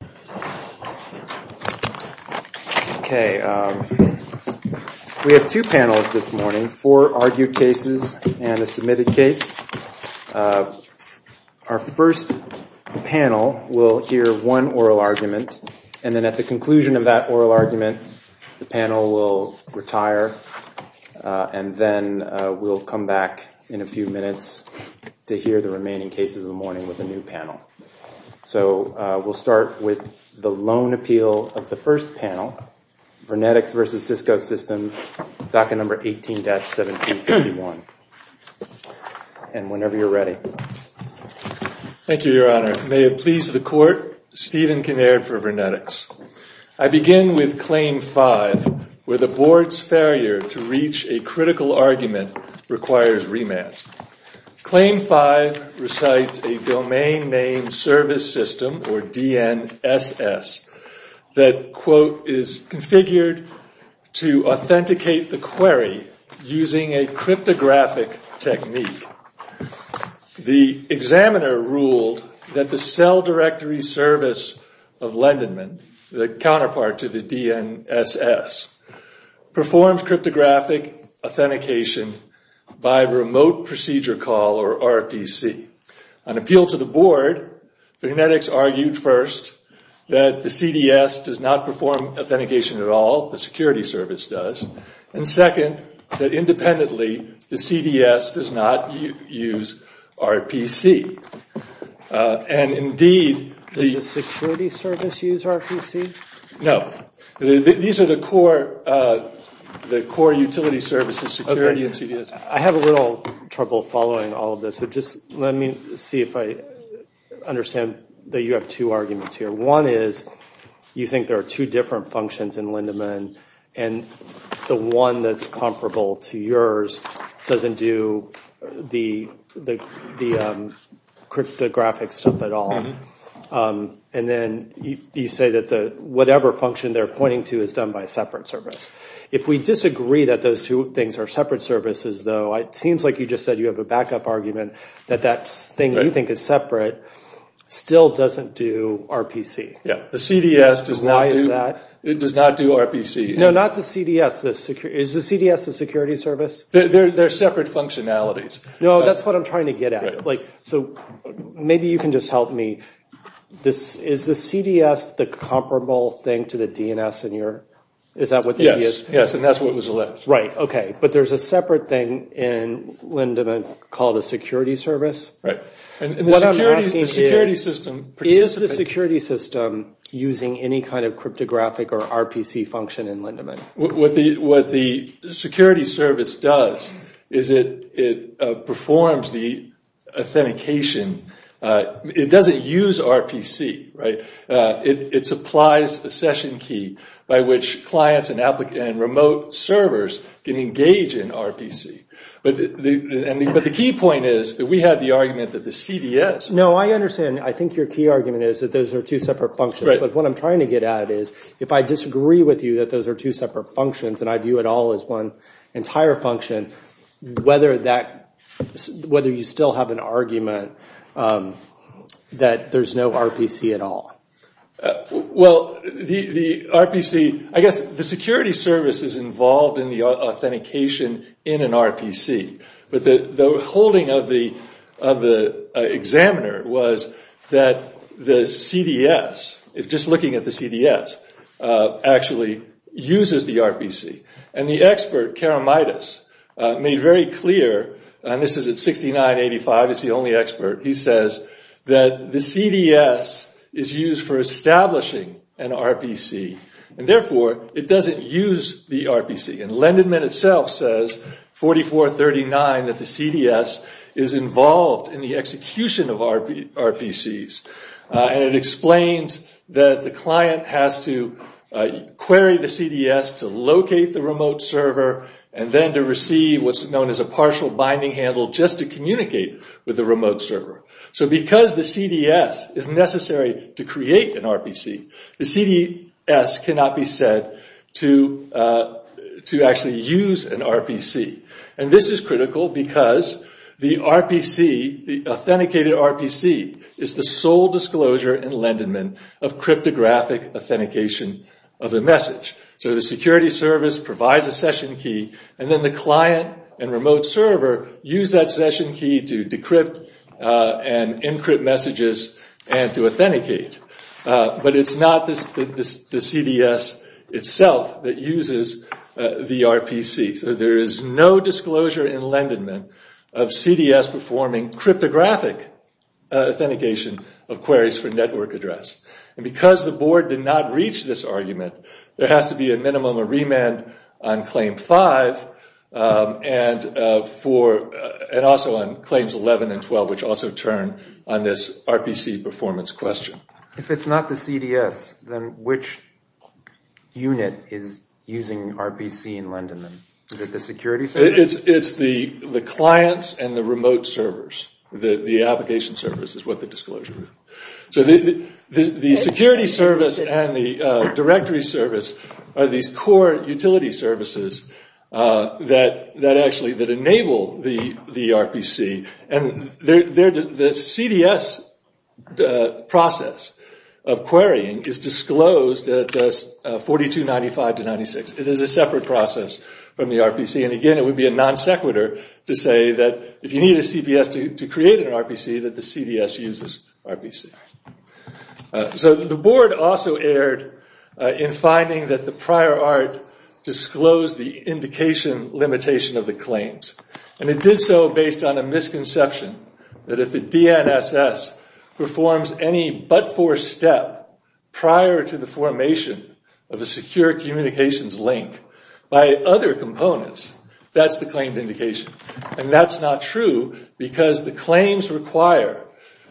We have two panels this morning, four argued cases and a submitted case. Our first panel will hear one oral argument, and then at the conclusion of that oral argument the panel will retire, and then we'll come back in a few minutes to hear the remaining cases of the morning with a new panel. So we'll start with the lone appeal of the first panel, VernetX v. Cisco Systems, docket number 18-1751. And whenever you're ready. Thank you, Your Honor. May it please the court, Stephen Kinnaird for VernetX. I begin with Claim 5, where the board's failure to reach a critical argument requires remand. Claim 5 recites a domain name service system, or DNSS, that, quote, is configured to authenticate the query using a cryptographic technique. The examiner ruled that the cell directory service of Lendenman, the counterpart to the DNSS, performs cryptographic authentication by remote procedure call, or RPC. On appeal to the board, VernetX argued first that the CDS does not perform authentication at all, the security service does. And second, that independently, the CDS does not use RPC. Does the security service use RPC? No. These are the core utility services, security and CDS. I have a little trouble following all of this, but just let me see if I understand that you have two arguments here. One is, you think there are two different functions in Lendeman, and the one that's comparable to yours doesn't do the cryptographic stuff at all. And then you say that whatever function they're pointing to is done by a separate service. If we disagree that those two things are separate services, though, it seems like you just said you have a backup argument that that thing you think is separate still doesn't do RPC. Yeah. The CDS does not do RPC. No, not the CDS. Is the CDS the security service? They're separate functionalities. No, that's what I'm trying to get at. So maybe you can just help me. Is the CDS the comparable thing to the DNS in your, is that what the idea is? Yes, yes, and that's what was alleged. Right, okay, but there's a separate thing in Lendeman called a security service. What I'm asking is, is the security system using any kind of cryptographic or RPC function in Lendeman? What the security service does is it performs the authentication. It doesn't use RPC, right? It supplies a session key by which clients and remote servers can engage in RPC. But the key point is that we have the argument that the CDS... No, I understand. I think your key argument is that those are two separate functions, but what I'm trying to get at is if I disagree with you that those are two separate functions and I view it all as one entire function, whether you still have an argument that there's no RPC at all? Well, the RPC... I guess the security service is involved in the authentication in an RPC, but the holding of the examiner was that the CDS, just looking at the CDS, actually uses the RPC. And the expert, Karamaitis, made very clear, and this is at 6985, he's the only expert, he says that the CDS is used for establishing an RPC and therefore it doesn't use the RPC. And Lendeman itself says, 4439, that the CDS is involved in the execution of RPCs. And it explains that the client has to query the CDS to locate the remote server and then to receive what's known as a partial binding handle just to communicate with the remote server. So because the CDS is necessary to create an RPC, the CDS cannot be said to actually use an RPC. And this is critical because the RPC, the authenticated RPC, is the sole disclosure in Lendeman of cryptographic authentication of the message. So the security service provides a session key and then the client and remote server use that session key to decrypt and encrypt messages and to authenticate. But it's not the CDS itself that uses the RPC. So there is no disclosure in Lendeman of CDS performing cryptographic authentication of queries for network address. Because the board did not reach this argument, there has to be a minimum of remand on Claim 5 and also on Claims 11 and 12, which also turn on this RPC performance question. If it's not the CDS, then which unit is using RPC in Lendeman? Is it the security service? It's the clients and the remote servers. The application servers is what the disclosure is. So the security service and the directory service are these core utility services that enable the RPC. And the CDS process of querying is disclosed at 42.95 to 96. It is a separate process from the RPC. And again, it would be a non sequitur to say that if you need a CPS to create an RPC, that the CDS uses RPC. So the board also erred in finding that the prior art disclosed the indication limitation of the claims. And it did so based on a misconception that if the DNSS performs any but-for step prior to the formation of a secure communications link by other components, that's the claimed indication. And that's not true because the claims require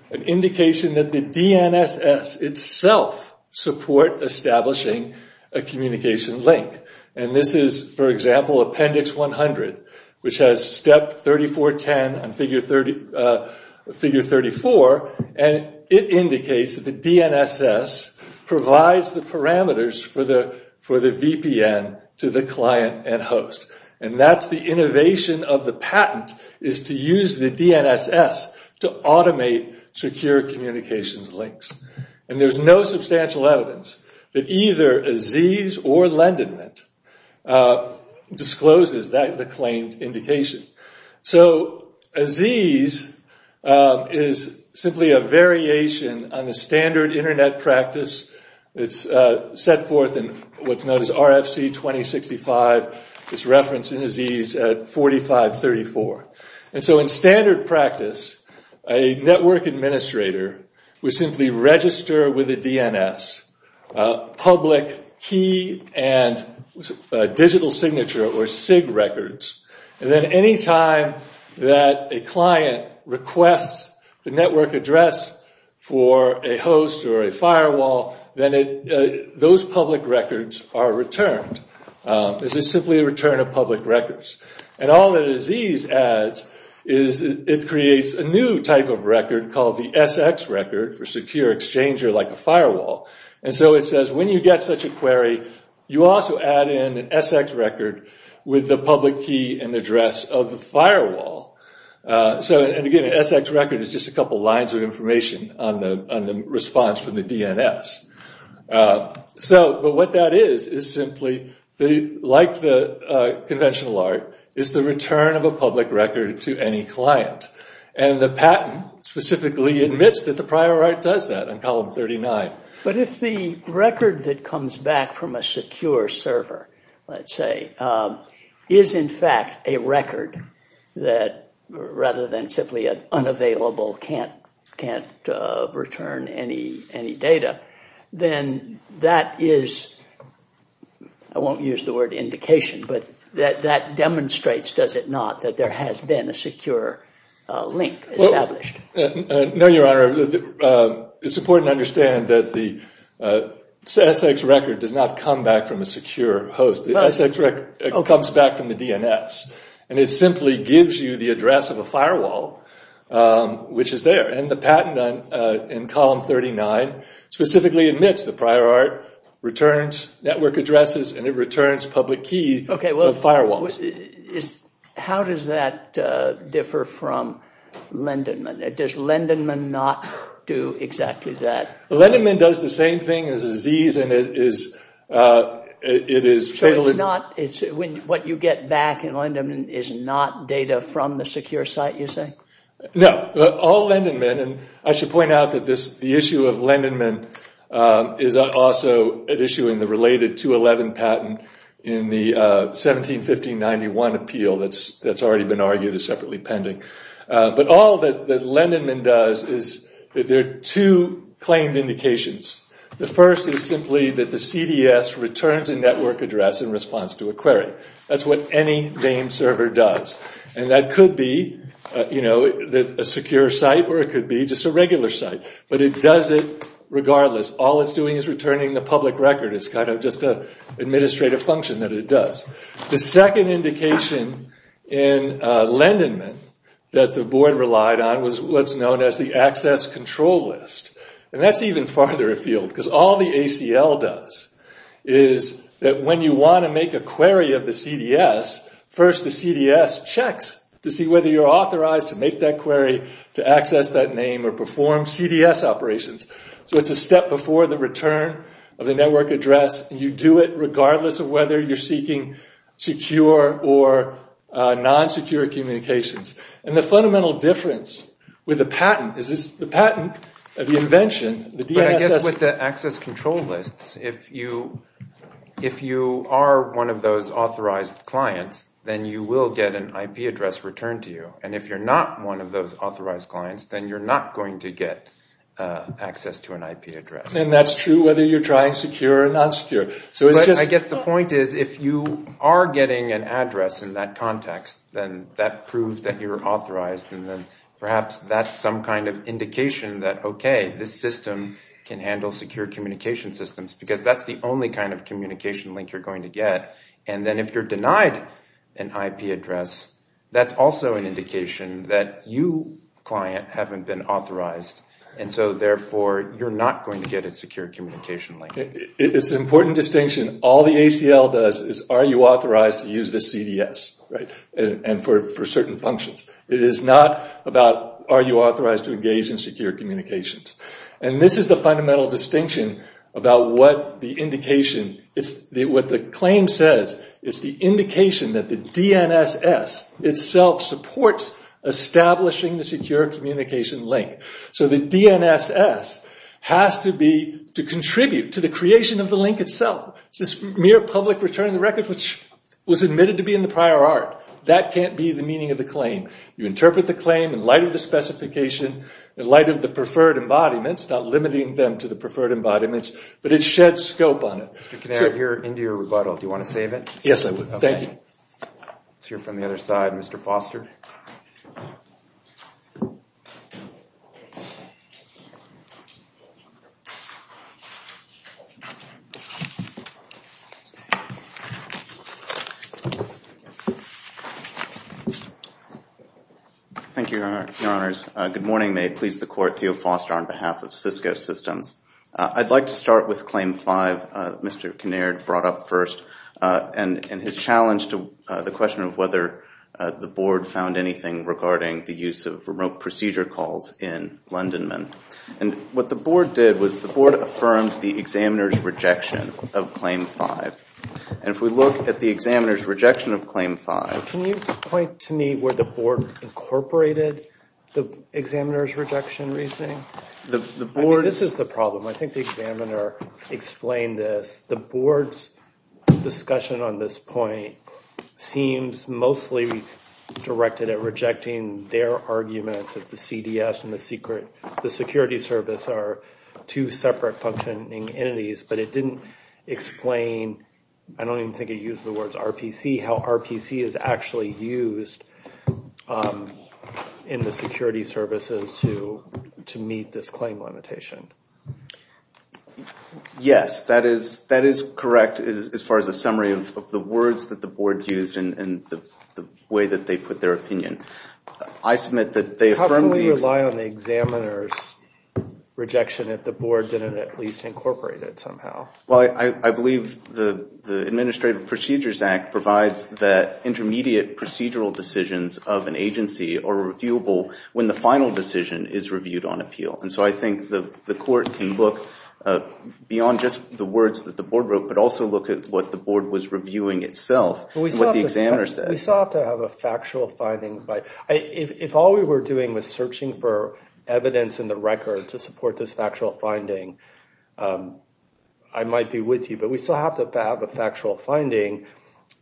an indication that the DNSS itself support establishing a communication link. And this is, for example, Appendix 100, which has step 3410 and figure 34. And it indicates that the DNSS provides the parameters for the VPN to the client and host. And that's the innovation of the patent, is to use the DNSS to automate secure communications links. And there's no substantial evidence that either Aziz or Lendonit discloses the claimed indication. So Aziz is simply a variation on the standard internet practice. It's set forth in what's known as RFC 2065. It's referenced in Aziz at 4534. And so in standard practice, a network administrator would simply register with a DNS public key and digital signature or SIG records. And then any time that a client requests the network address for a host or a firewall, then those public records are returned. It's simply a return of public records. And all that Aziz adds is it creates a new type of record called the SX record for secure exchanger like a firewall. And so it says when you get such a query, you also add in an SX record with the public key and address of the firewall. So again, an SX record is just a couple lines of information on the response from the DNS. But what that is, is simply like the conventional art, is the return of a public record to any client. And the patent specifically admits that the prior art does that on column 39. But if the record that comes back from a secure server, let's say, is in fact a record that rather than simply an unavailable can't return any data, then that is, I won't use the word indication, but that demonstrates, does it not, that there has been a secure link established. No, Your Honor. It's important to understand that the SX record does not come back from a secure host. The SX record comes back from the DNS. And it simply gives you the address of a firewall, which is there. And the patent in column 39 specifically admits the prior art returns network addresses and it returns public key of firewalls. Okay, well, how does that differ from Lendenman? Does Lendenman not do exactly that? Lendenman does the same thing as Aziz, and it is, it is... So it's not, what you get back in Lendenman is not data from the secure site, you say? No, all Lendenman, and I should point out that the issue of Lendenman is also at issue in the related 211 patent in the 171591 appeal that's already been argued as separately pending. But all that Lendenman does is that there are two claimed indications. The first is simply that the CDS returns a network address in response to a query. That's what any DAME server does. And that could be, you know, a secure site or it could be just a regular site. But it does it regardless. All it's doing is returning the public record. It's kind of just an administrative function that it does. The second indication in Lendenman that the board relied on was what's known as the access control list. And that's even farther afield because all the ACL does is that when you want to make a query of the CDS, first the CDS checks to see whether you're authorized to make that query, to access that name, or perform CDS operations. So it's a step before the return of the network address. You do it regardless of whether you're seeking secure or non-secure communications. And the fundamental difference with the patent is this, the patent, the invention, the DNSS... But I guess with the access control lists, if you are one of those authorized clients, then you will get an IP address returned to you. And if you're not one of those authorized clients, then you're not going to get access to an IP address. And that's true whether you're trying secure or non-secure. So it's just... But I guess the point is, if you are getting an address in that context, then that proves that you're authorized. And then perhaps that's some kind of indication that, okay, this system can handle secure communication systems, because that's the only kind of communication link you're going to get. And then if you're denied an IP address, that's also an indication that you, client, haven't been authorized. And so therefore, you're not going to get a secure communication link. It's an important distinction. All the ACL does is, are you authorized to use the CDS, right? And for certain functions. It is not about, are you authorized to engage in secure communications? And this is the fundamental distinction about what the indication, what the claim says, is the indication that the DNSS itself supports establishing the secure communication link. So the DNSS has to be, to contribute to the creation of the link itself. It's just mere public return of the records, which was admitted to be in the prior art. That can't be the meaning of the claim. You interpret the claim in light of the specification, in light of the preferred embodiments, not limiting them to the preferred embodiments, but it sheds scope on it. Mr. Kinnear, you're into your rebuttal. Do you want to save it? Yes, I would. Thank you. Let's hear from the other side. Mr. Foster. Thank you, Your Honors. Good morning. May it please the court, Theo Foster on behalf of Cisco Systems. I'd like to start with what Mr. Kinnear brought up first and his challenge to the question of whether the board found anything regarding the use of remote procedure calls in Londonman. And what the board did was the board affirmed the examiner's rejection of Claim 5. And if we look at the examiner's rejection of Claim 5. Can you point to me where the board incorporated the examiner's rejection of Claim 5. Can you explain this? The board's discussion on this point seems mostly directed at rejecting their argument that the CDS and the security service are two separate functioning entities, but it didn't explain, I don't even think it used the words Yes, that is correct as far as a summary of the words that the board used and the way that they put their opinion. How can we rely on the examiner's rejection if the board didn't at least incorporate it somehow? Well, I believe the Administrative Procedures Act provides that intermediate procedural decisions of an agency are reviewable when the final decision is reviewed on appeal. And so I think the court can look beyond just the words that the board wrote but also look at what the board was reviewing itself and what the examiner said. We still have to have a factual finding. If all we were doing was searching for evidence in the record to support this factual finding, I might be with you. But we still have to have a factual finding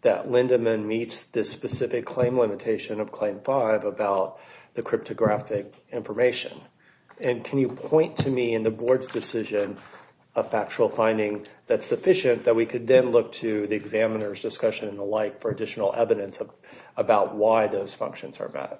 that Lindemann meets this specific claim limitation of Claim 5 about the cryptographic information. And can you point to me in the board's decision a factual finding that's sufficient that we could then look to the examiner's discussion and the like for additional evidence about why those functions are bad?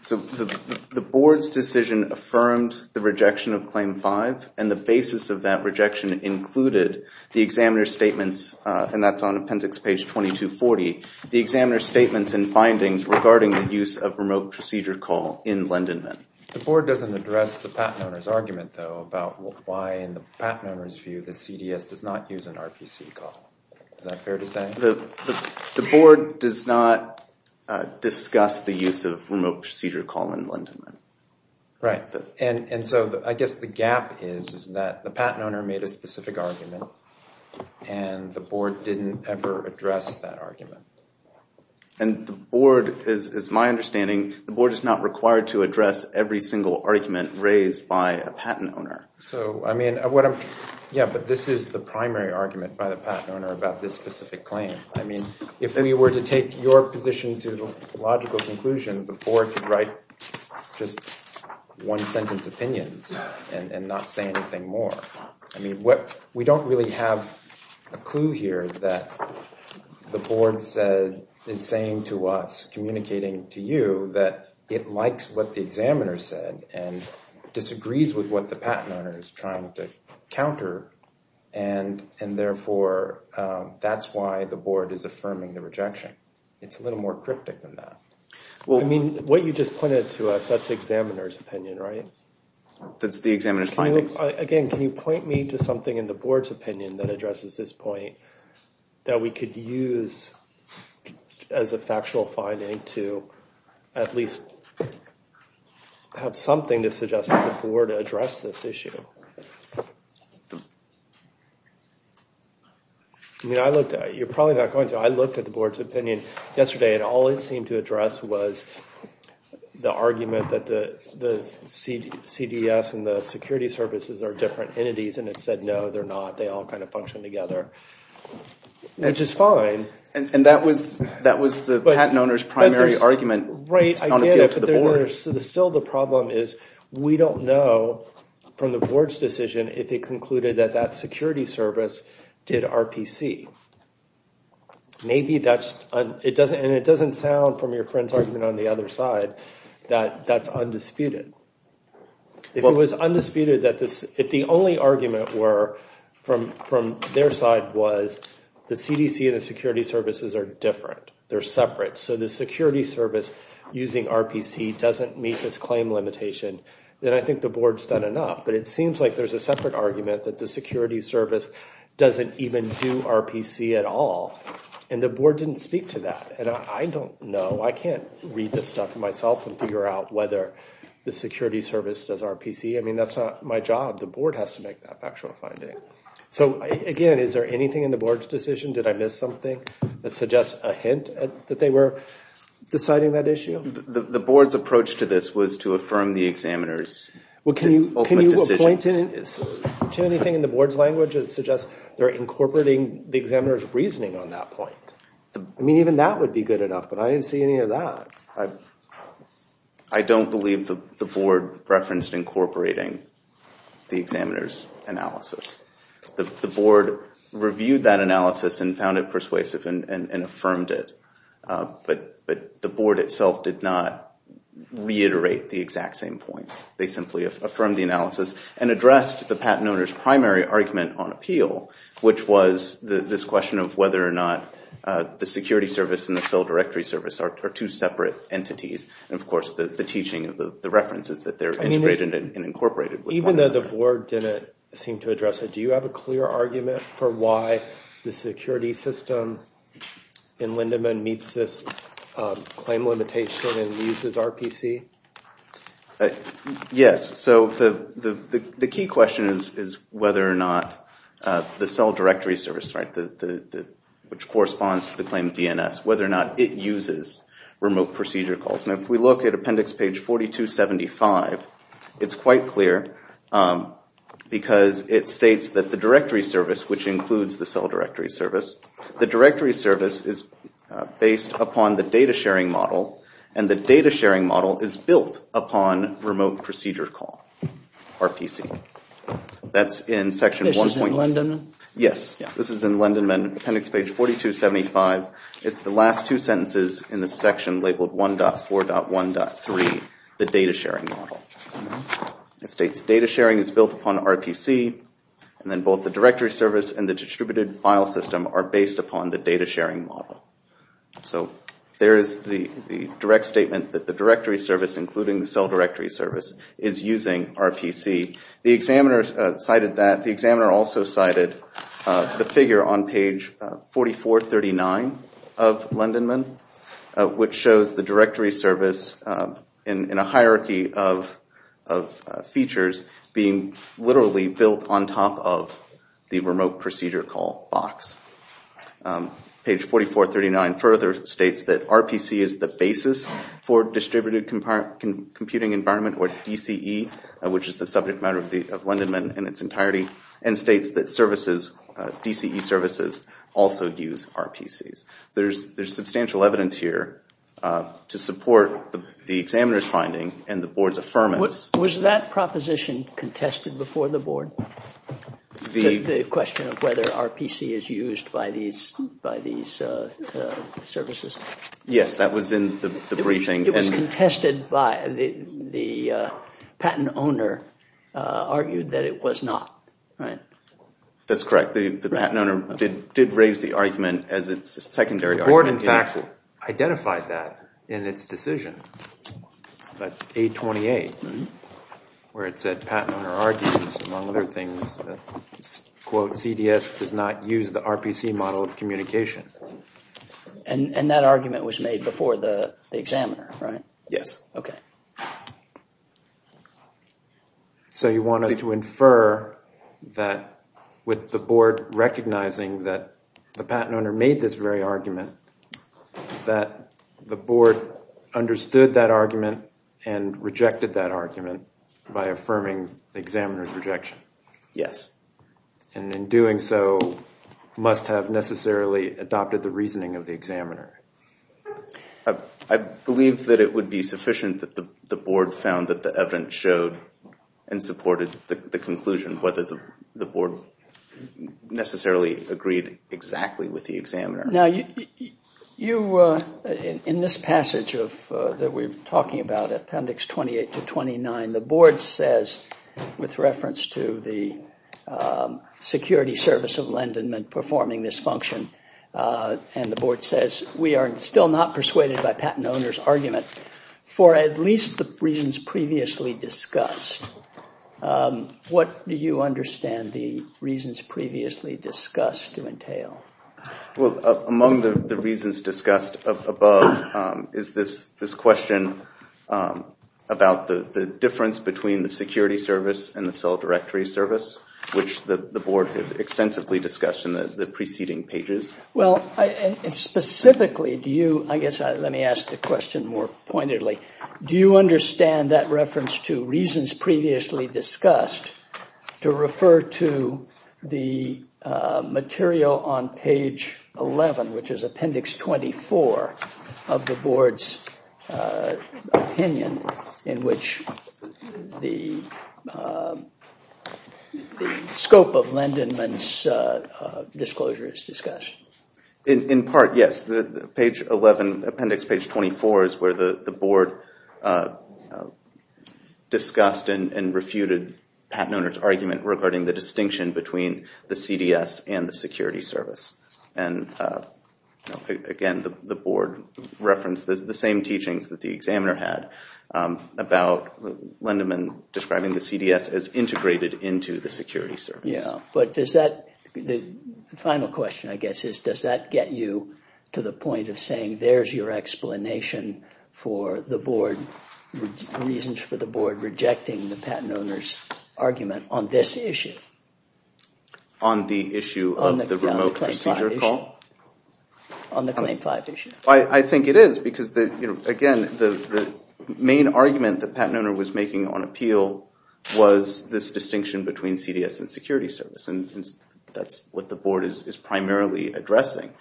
So the board's decision affirmed the rejection of Claim 5 and the basis of that rejection included the examiner's statements, and that's on appendix page 2240, the examiner's statements and findings regarding the use of remote procedure call in Lindemann. The board doesn't address the patent owner's argument, though, about why in the patent owner's view the CDS does not use an RPC call. Is that fair to say? The board does not discuss the use of remote procedure call in Lindemann. Right. And so I guess the gap is that the patent owner made a specific argument and the board didn't ever address that argument. And the board, as my understanding, the board is not required to address every single argument raised by a patent owner. So, I mean, yeah, but this is the primary argument by the patent owner about this specific claim. I mean, if we were to take your position to the logical conclusion, the board could write just one sentence opinions and not say anything more. I mean, we don't really have a clue here that the board is saying to us, communicating to you, that it likes what the examiner said and disagrees with what the patent owner is trying to counter. And therefore, that's why the board is affirming the rejection. It's a little more cryptic than that. Well, I mean, what you just pointed to us, that's the examiner's opinion, right? That's the examiner's findings. At least have something to suggest that the board addressed this issue. You're probably not going to. I looked at the board's opinion yesterday and all it seemed to address was the argument that the CDS and the security services are different entities. And it said, no, they're not. They all kind of function together, which is fine. And that was the patent owner's primary argument. Right, I get it, but still the problem is we don't know from the board's decision if they concluded that that security service did RPC. And it doesn't sound from your friend's argument on the other side that that's undisputed. If it was undisputed that the only argument were from their side was the CDC and the security services are different. They're separate. So the security service using RPC doesn't meet this claim limitation, then I think the board's done enough. But it seems like there's a separate argument that the security service doesn't even do RPC at all. And the board didn't speak to that. And I don't know. I can't read this stuff myself and figure out whether the security service does RPC. I mean, that's not my job. The board has to make that factual finding. So again, is there anything in the board's decision? Did I miss something that suggests a hint that they were deciding that issue? The board's approach to this was to affirm the examiner's decision. Can you point to anything in the board's language that suggests they're incorporating the examiner's reasoning on that point? I mean, even that would be good enough, but I didn't see any of that. I don't believe the board referenced incorporating the examiner's analysis. The board reviewed that analysis and found it persuasive and affirmed it. But the board itself did not reiterate the exact same points. They simply affirmed the analysis and addressed the patent owner's primary argument on appeal, which was this question of whether or not the security service and the cell directory service are two separate entities. And of course, the teaching of the reference is that they're integrated and incorporated. Even though the board didn't seem to address it, do you have a clear argument for why the security system in Lindemann meets this claim limitation and uses RPC? Yes. So the key question is whether or not the cell directory service, which corresponds to the claim DNS, whether or not it uses remote procedure calls. And if we look at appendix page 4275, it's quite clear because it states that the directory service, which includes the cell directory service, the directory service is based upon the data sharing model, and the data sharing model is built upon remote procedure call, RPC. That's in section 1.1. This is in Lindemann? Yes. This is in Lindemann, appendix page 4275. It's the last two sentences in the section labeled 1.4.1.3, the data sharing model. It states data sharing is built upon RPC, and then both the directory service and the distributed file system are based upon the data sharing model. So there is the direct statement that the directory service, including the cell directory service, is using RPC. The examiner cited that. The examiner also cited the figure on page 4439 of Lindemann, which shows the directory service in a hierarchy of features being literally built on top of the remote procedure call box. Page 4439 further states that RPC is the basis for distributed computing environment, or DCE, which is the subject matter of Lindemann in its entirety, and states that DCE services also use RPCs. There's substantial evidence here to support the examiner's finding and the board's affirmance. Was that proposition contested before the board? The question of whether RPC is used by these services? Yes, that was in the briefing. It was contested by the patent owner argued that it was not, right? That's correct. The patent owner did raise the argument as its secondary argument. The board, in fact, identified that in its decision, but 828, where it said patent owner argues among other things, quote, CDS does not use the RPC model of communication. And that argument was made before the examiner, right? Yes. Okay. So you want us to infer that with the board recognizing that the patent owner made this very argument, that the board understood that argument and rejected that argument by affirming the examiner's rejection? Yes. And in doing so, must have necessarily adopted the reasoning of the examiner? I believe that it would be sufficient that the board found that the evidence showed and supported the conclusion, whether the board necessarily agreed exactly with the examiner. Now, in this passage that we're talking about, Appendix 28 to 29, the board says, with reference to the Security Service of Linden performing this function, and the board says, we are still not persuaded by patent owner's argument for at least the reasons previously discussed. What do you understand the reasons previously discussed to entail? Well, among the reasons discussed above is this question about the difference between the Security Service and the Cell Directory Service, which the board extensively discussed in the preceding pages. Well, specifically, do you, I guess let me ask the question more pointedly, do you understand that reference to reasons previously discussed to refer to the material on page 11, which is Appendix 24 of the board's opinion in which the scope of Lindenman's disclosure is discussed? In part, yes. Page 11, Appendix 24 is where the board discussed and refuted patent owner's argument regarding the distinction between the CDS and the Security Service. And again, the board referenced the same teachings that the examiner had about Lindenman describing the CDS as integrated into the Security Service. Yeah, but does that, the final question, I guess, is does that get you to the point of saying there's your explanation for the board, reasons for the board rejecting the patent owner's argument on this issue? On the issue of the remote procedure call? On the Claim 5 issue. I think it is, because again, the main argument that patent owner was making on appeal was this distinction between CDS and Security Service, and that's what the board is primarily addressing.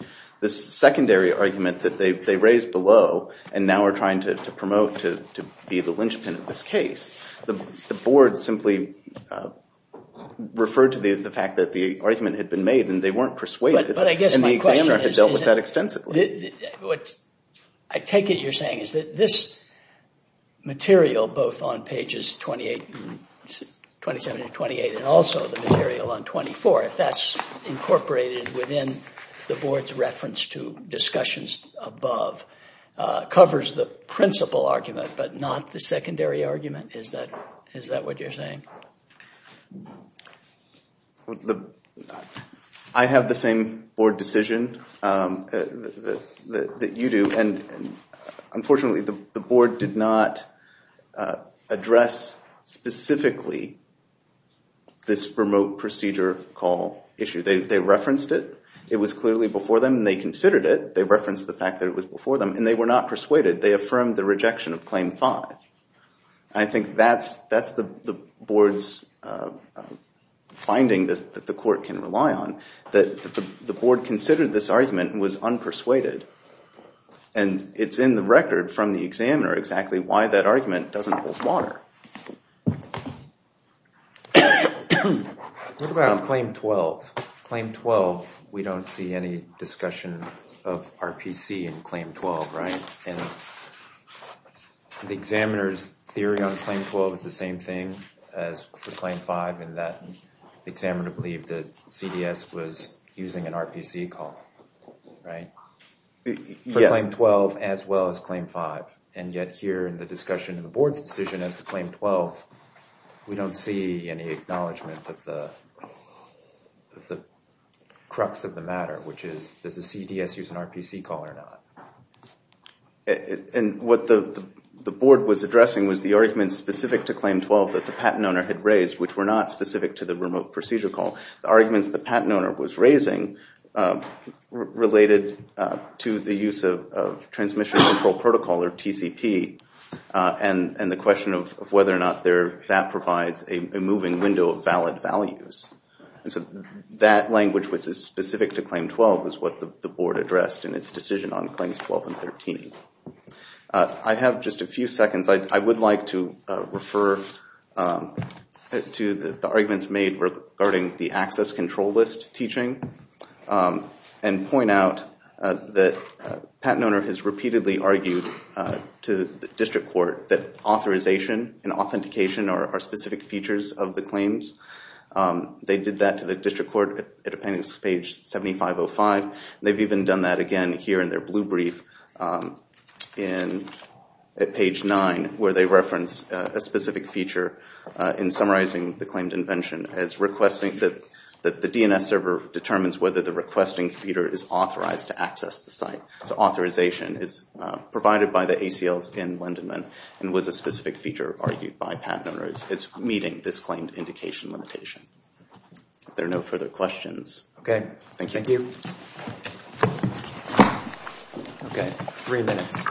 The secondary argument that they raised below, and now are trying to promote to be the linchpin of this case, the board simply referred to the fact that the argument had been made and they weren't persuaded, and the examiner had dealt with that extensively. What I take it you're saying is that this material, both on pages 27 and 28, and also the material on 24, if that's incorporated within the board's reference to discussions above, covers the principal argument, but not the secondary argument. Is that what you're saying? I have the same board decision that you do, and unfortunately the board did not address specifically this remote procedure call issue. They referenced it, it was clearly before them, and they considered it. They referenced the fact that it was before them, and they were not persuaded. They affirmed the rejection of Claim 5. I think that's the board's finding that the court can rely on, that the board considered this argument and was unpersuaded, and it's in the record from the examiner exactly why that argument doesn't hold water. What about on Claim 12? Claim 12, we don't see any discussion of RPC in Claim 12, right? And the examiner's theory on Claim 12 is the same thing as for Claim 5, in that the examiner believed that CDS was using an RPC call, right? For Claim 12 as well as Claim 5, and yet here in the discussion of the board's decision as to Claim 12, we don't see any acknowledgment of the crux of the matter, which is, does the CDS use an RPC call or not? And what the board was addressing was the arguments specific to Claim 12 that the patent owner had raised, which were not specific to the remote procedure call. The arguments the patent owner was raising related to the use of Transmission Control Protocol, or TCP, and the question of whether or not that provides a moving window of valid values. And so that language was specific to Claim 12, was what the board addressed in its decision on Claims 12 and 13. I have just a few seconds. I would like to refer to the arguments made regarding the access control list teaching and point out that the patent owner has repeatedly argued to the district court that authorization and authentication are specific features of the claims. They did that to the district court at appendix page 7505. They've even done that again here in their blue brief at page 9, where they reference a specific feature in summarizing the claimed invention as requesting that the DNS server determines whether the requesting computer is authorized to access the site. So authorization is provided by the ACLs in Lindenman and was a specific feature argued by patent owners as meeting this claimed indication limitation. If there are no further questions, thank you. Okay, three minutes.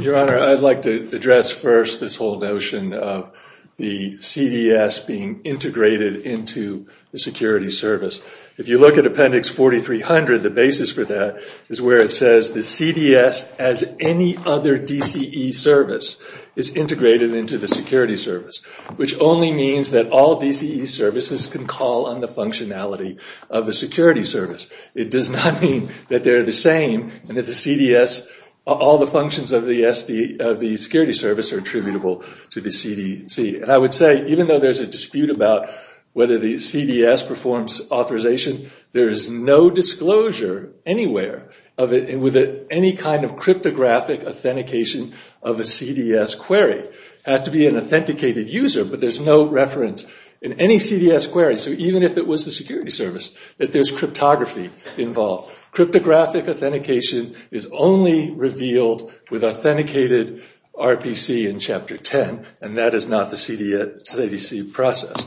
Your Honor, I'd like to address first this whole notion of the CDS being integrated into the security service. If you look at appendix 4300, the basis for that is where it says the CDS, as any other DCE service, is integrated into the security service, which only means that all DCE services can call on the functionality of the security service. It does not mean that they're the same and that the CDS, all the functions of the security service are attributable to the CDC. And I would say even though there's a dispute about whether the CDS performs authorization, there is no disclosure anywhere with any kind of cryptographic authentication of a CDS query. It has to be an authenticated user, but there's no reference in any CDS query, so even if it was the security service, that there's cryptography involved. Cryptographic authentication is only revealed with authenticated RPC in Chapter 10, and that is not the CDC process.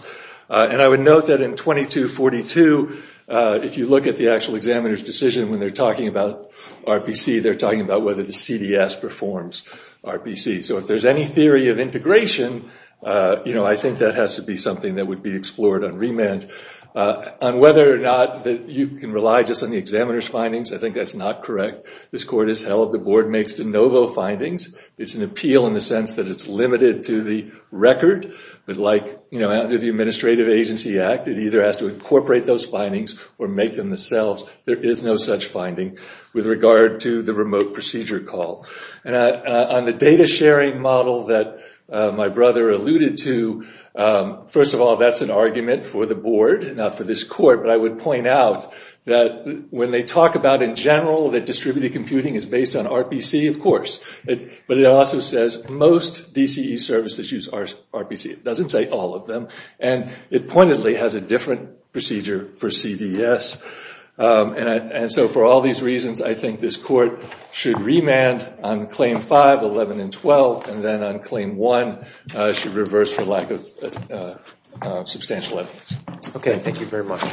And I would note that in 2242, if you look at the actual examiner's decision when they're talking about RPC, they're talking about whether the CDS performs RPC. So if there's any theory of integration, you know, I think that has to be something that would be explored on remand. On whether or not you can rely just on the examiner's findings, I think that's not correct. This court has held the board makes de novo findings. It's an appeal in the sense that it's limited to the record, but like, you know, under the Administrative Agency Act, it either has to incorporate those findings or make them themselves. There is no such finding with regard to the remote procedure call. And on the data sharing model that my brother alluded to, first of all, that's an argument for the board, not for this court, but I would point out that when they talk about in general that distributed computing is based on RPC, of course. But it also says most DCE services use RPC. It doesn't say all of them. And it pointedly has a different procedure for CDS. And so for all these reasons, I think this court should remand on Claim 5, 11, and 12, and then on Claim 1 should reverse for lack of substantial evidence. Okay, thank you very much.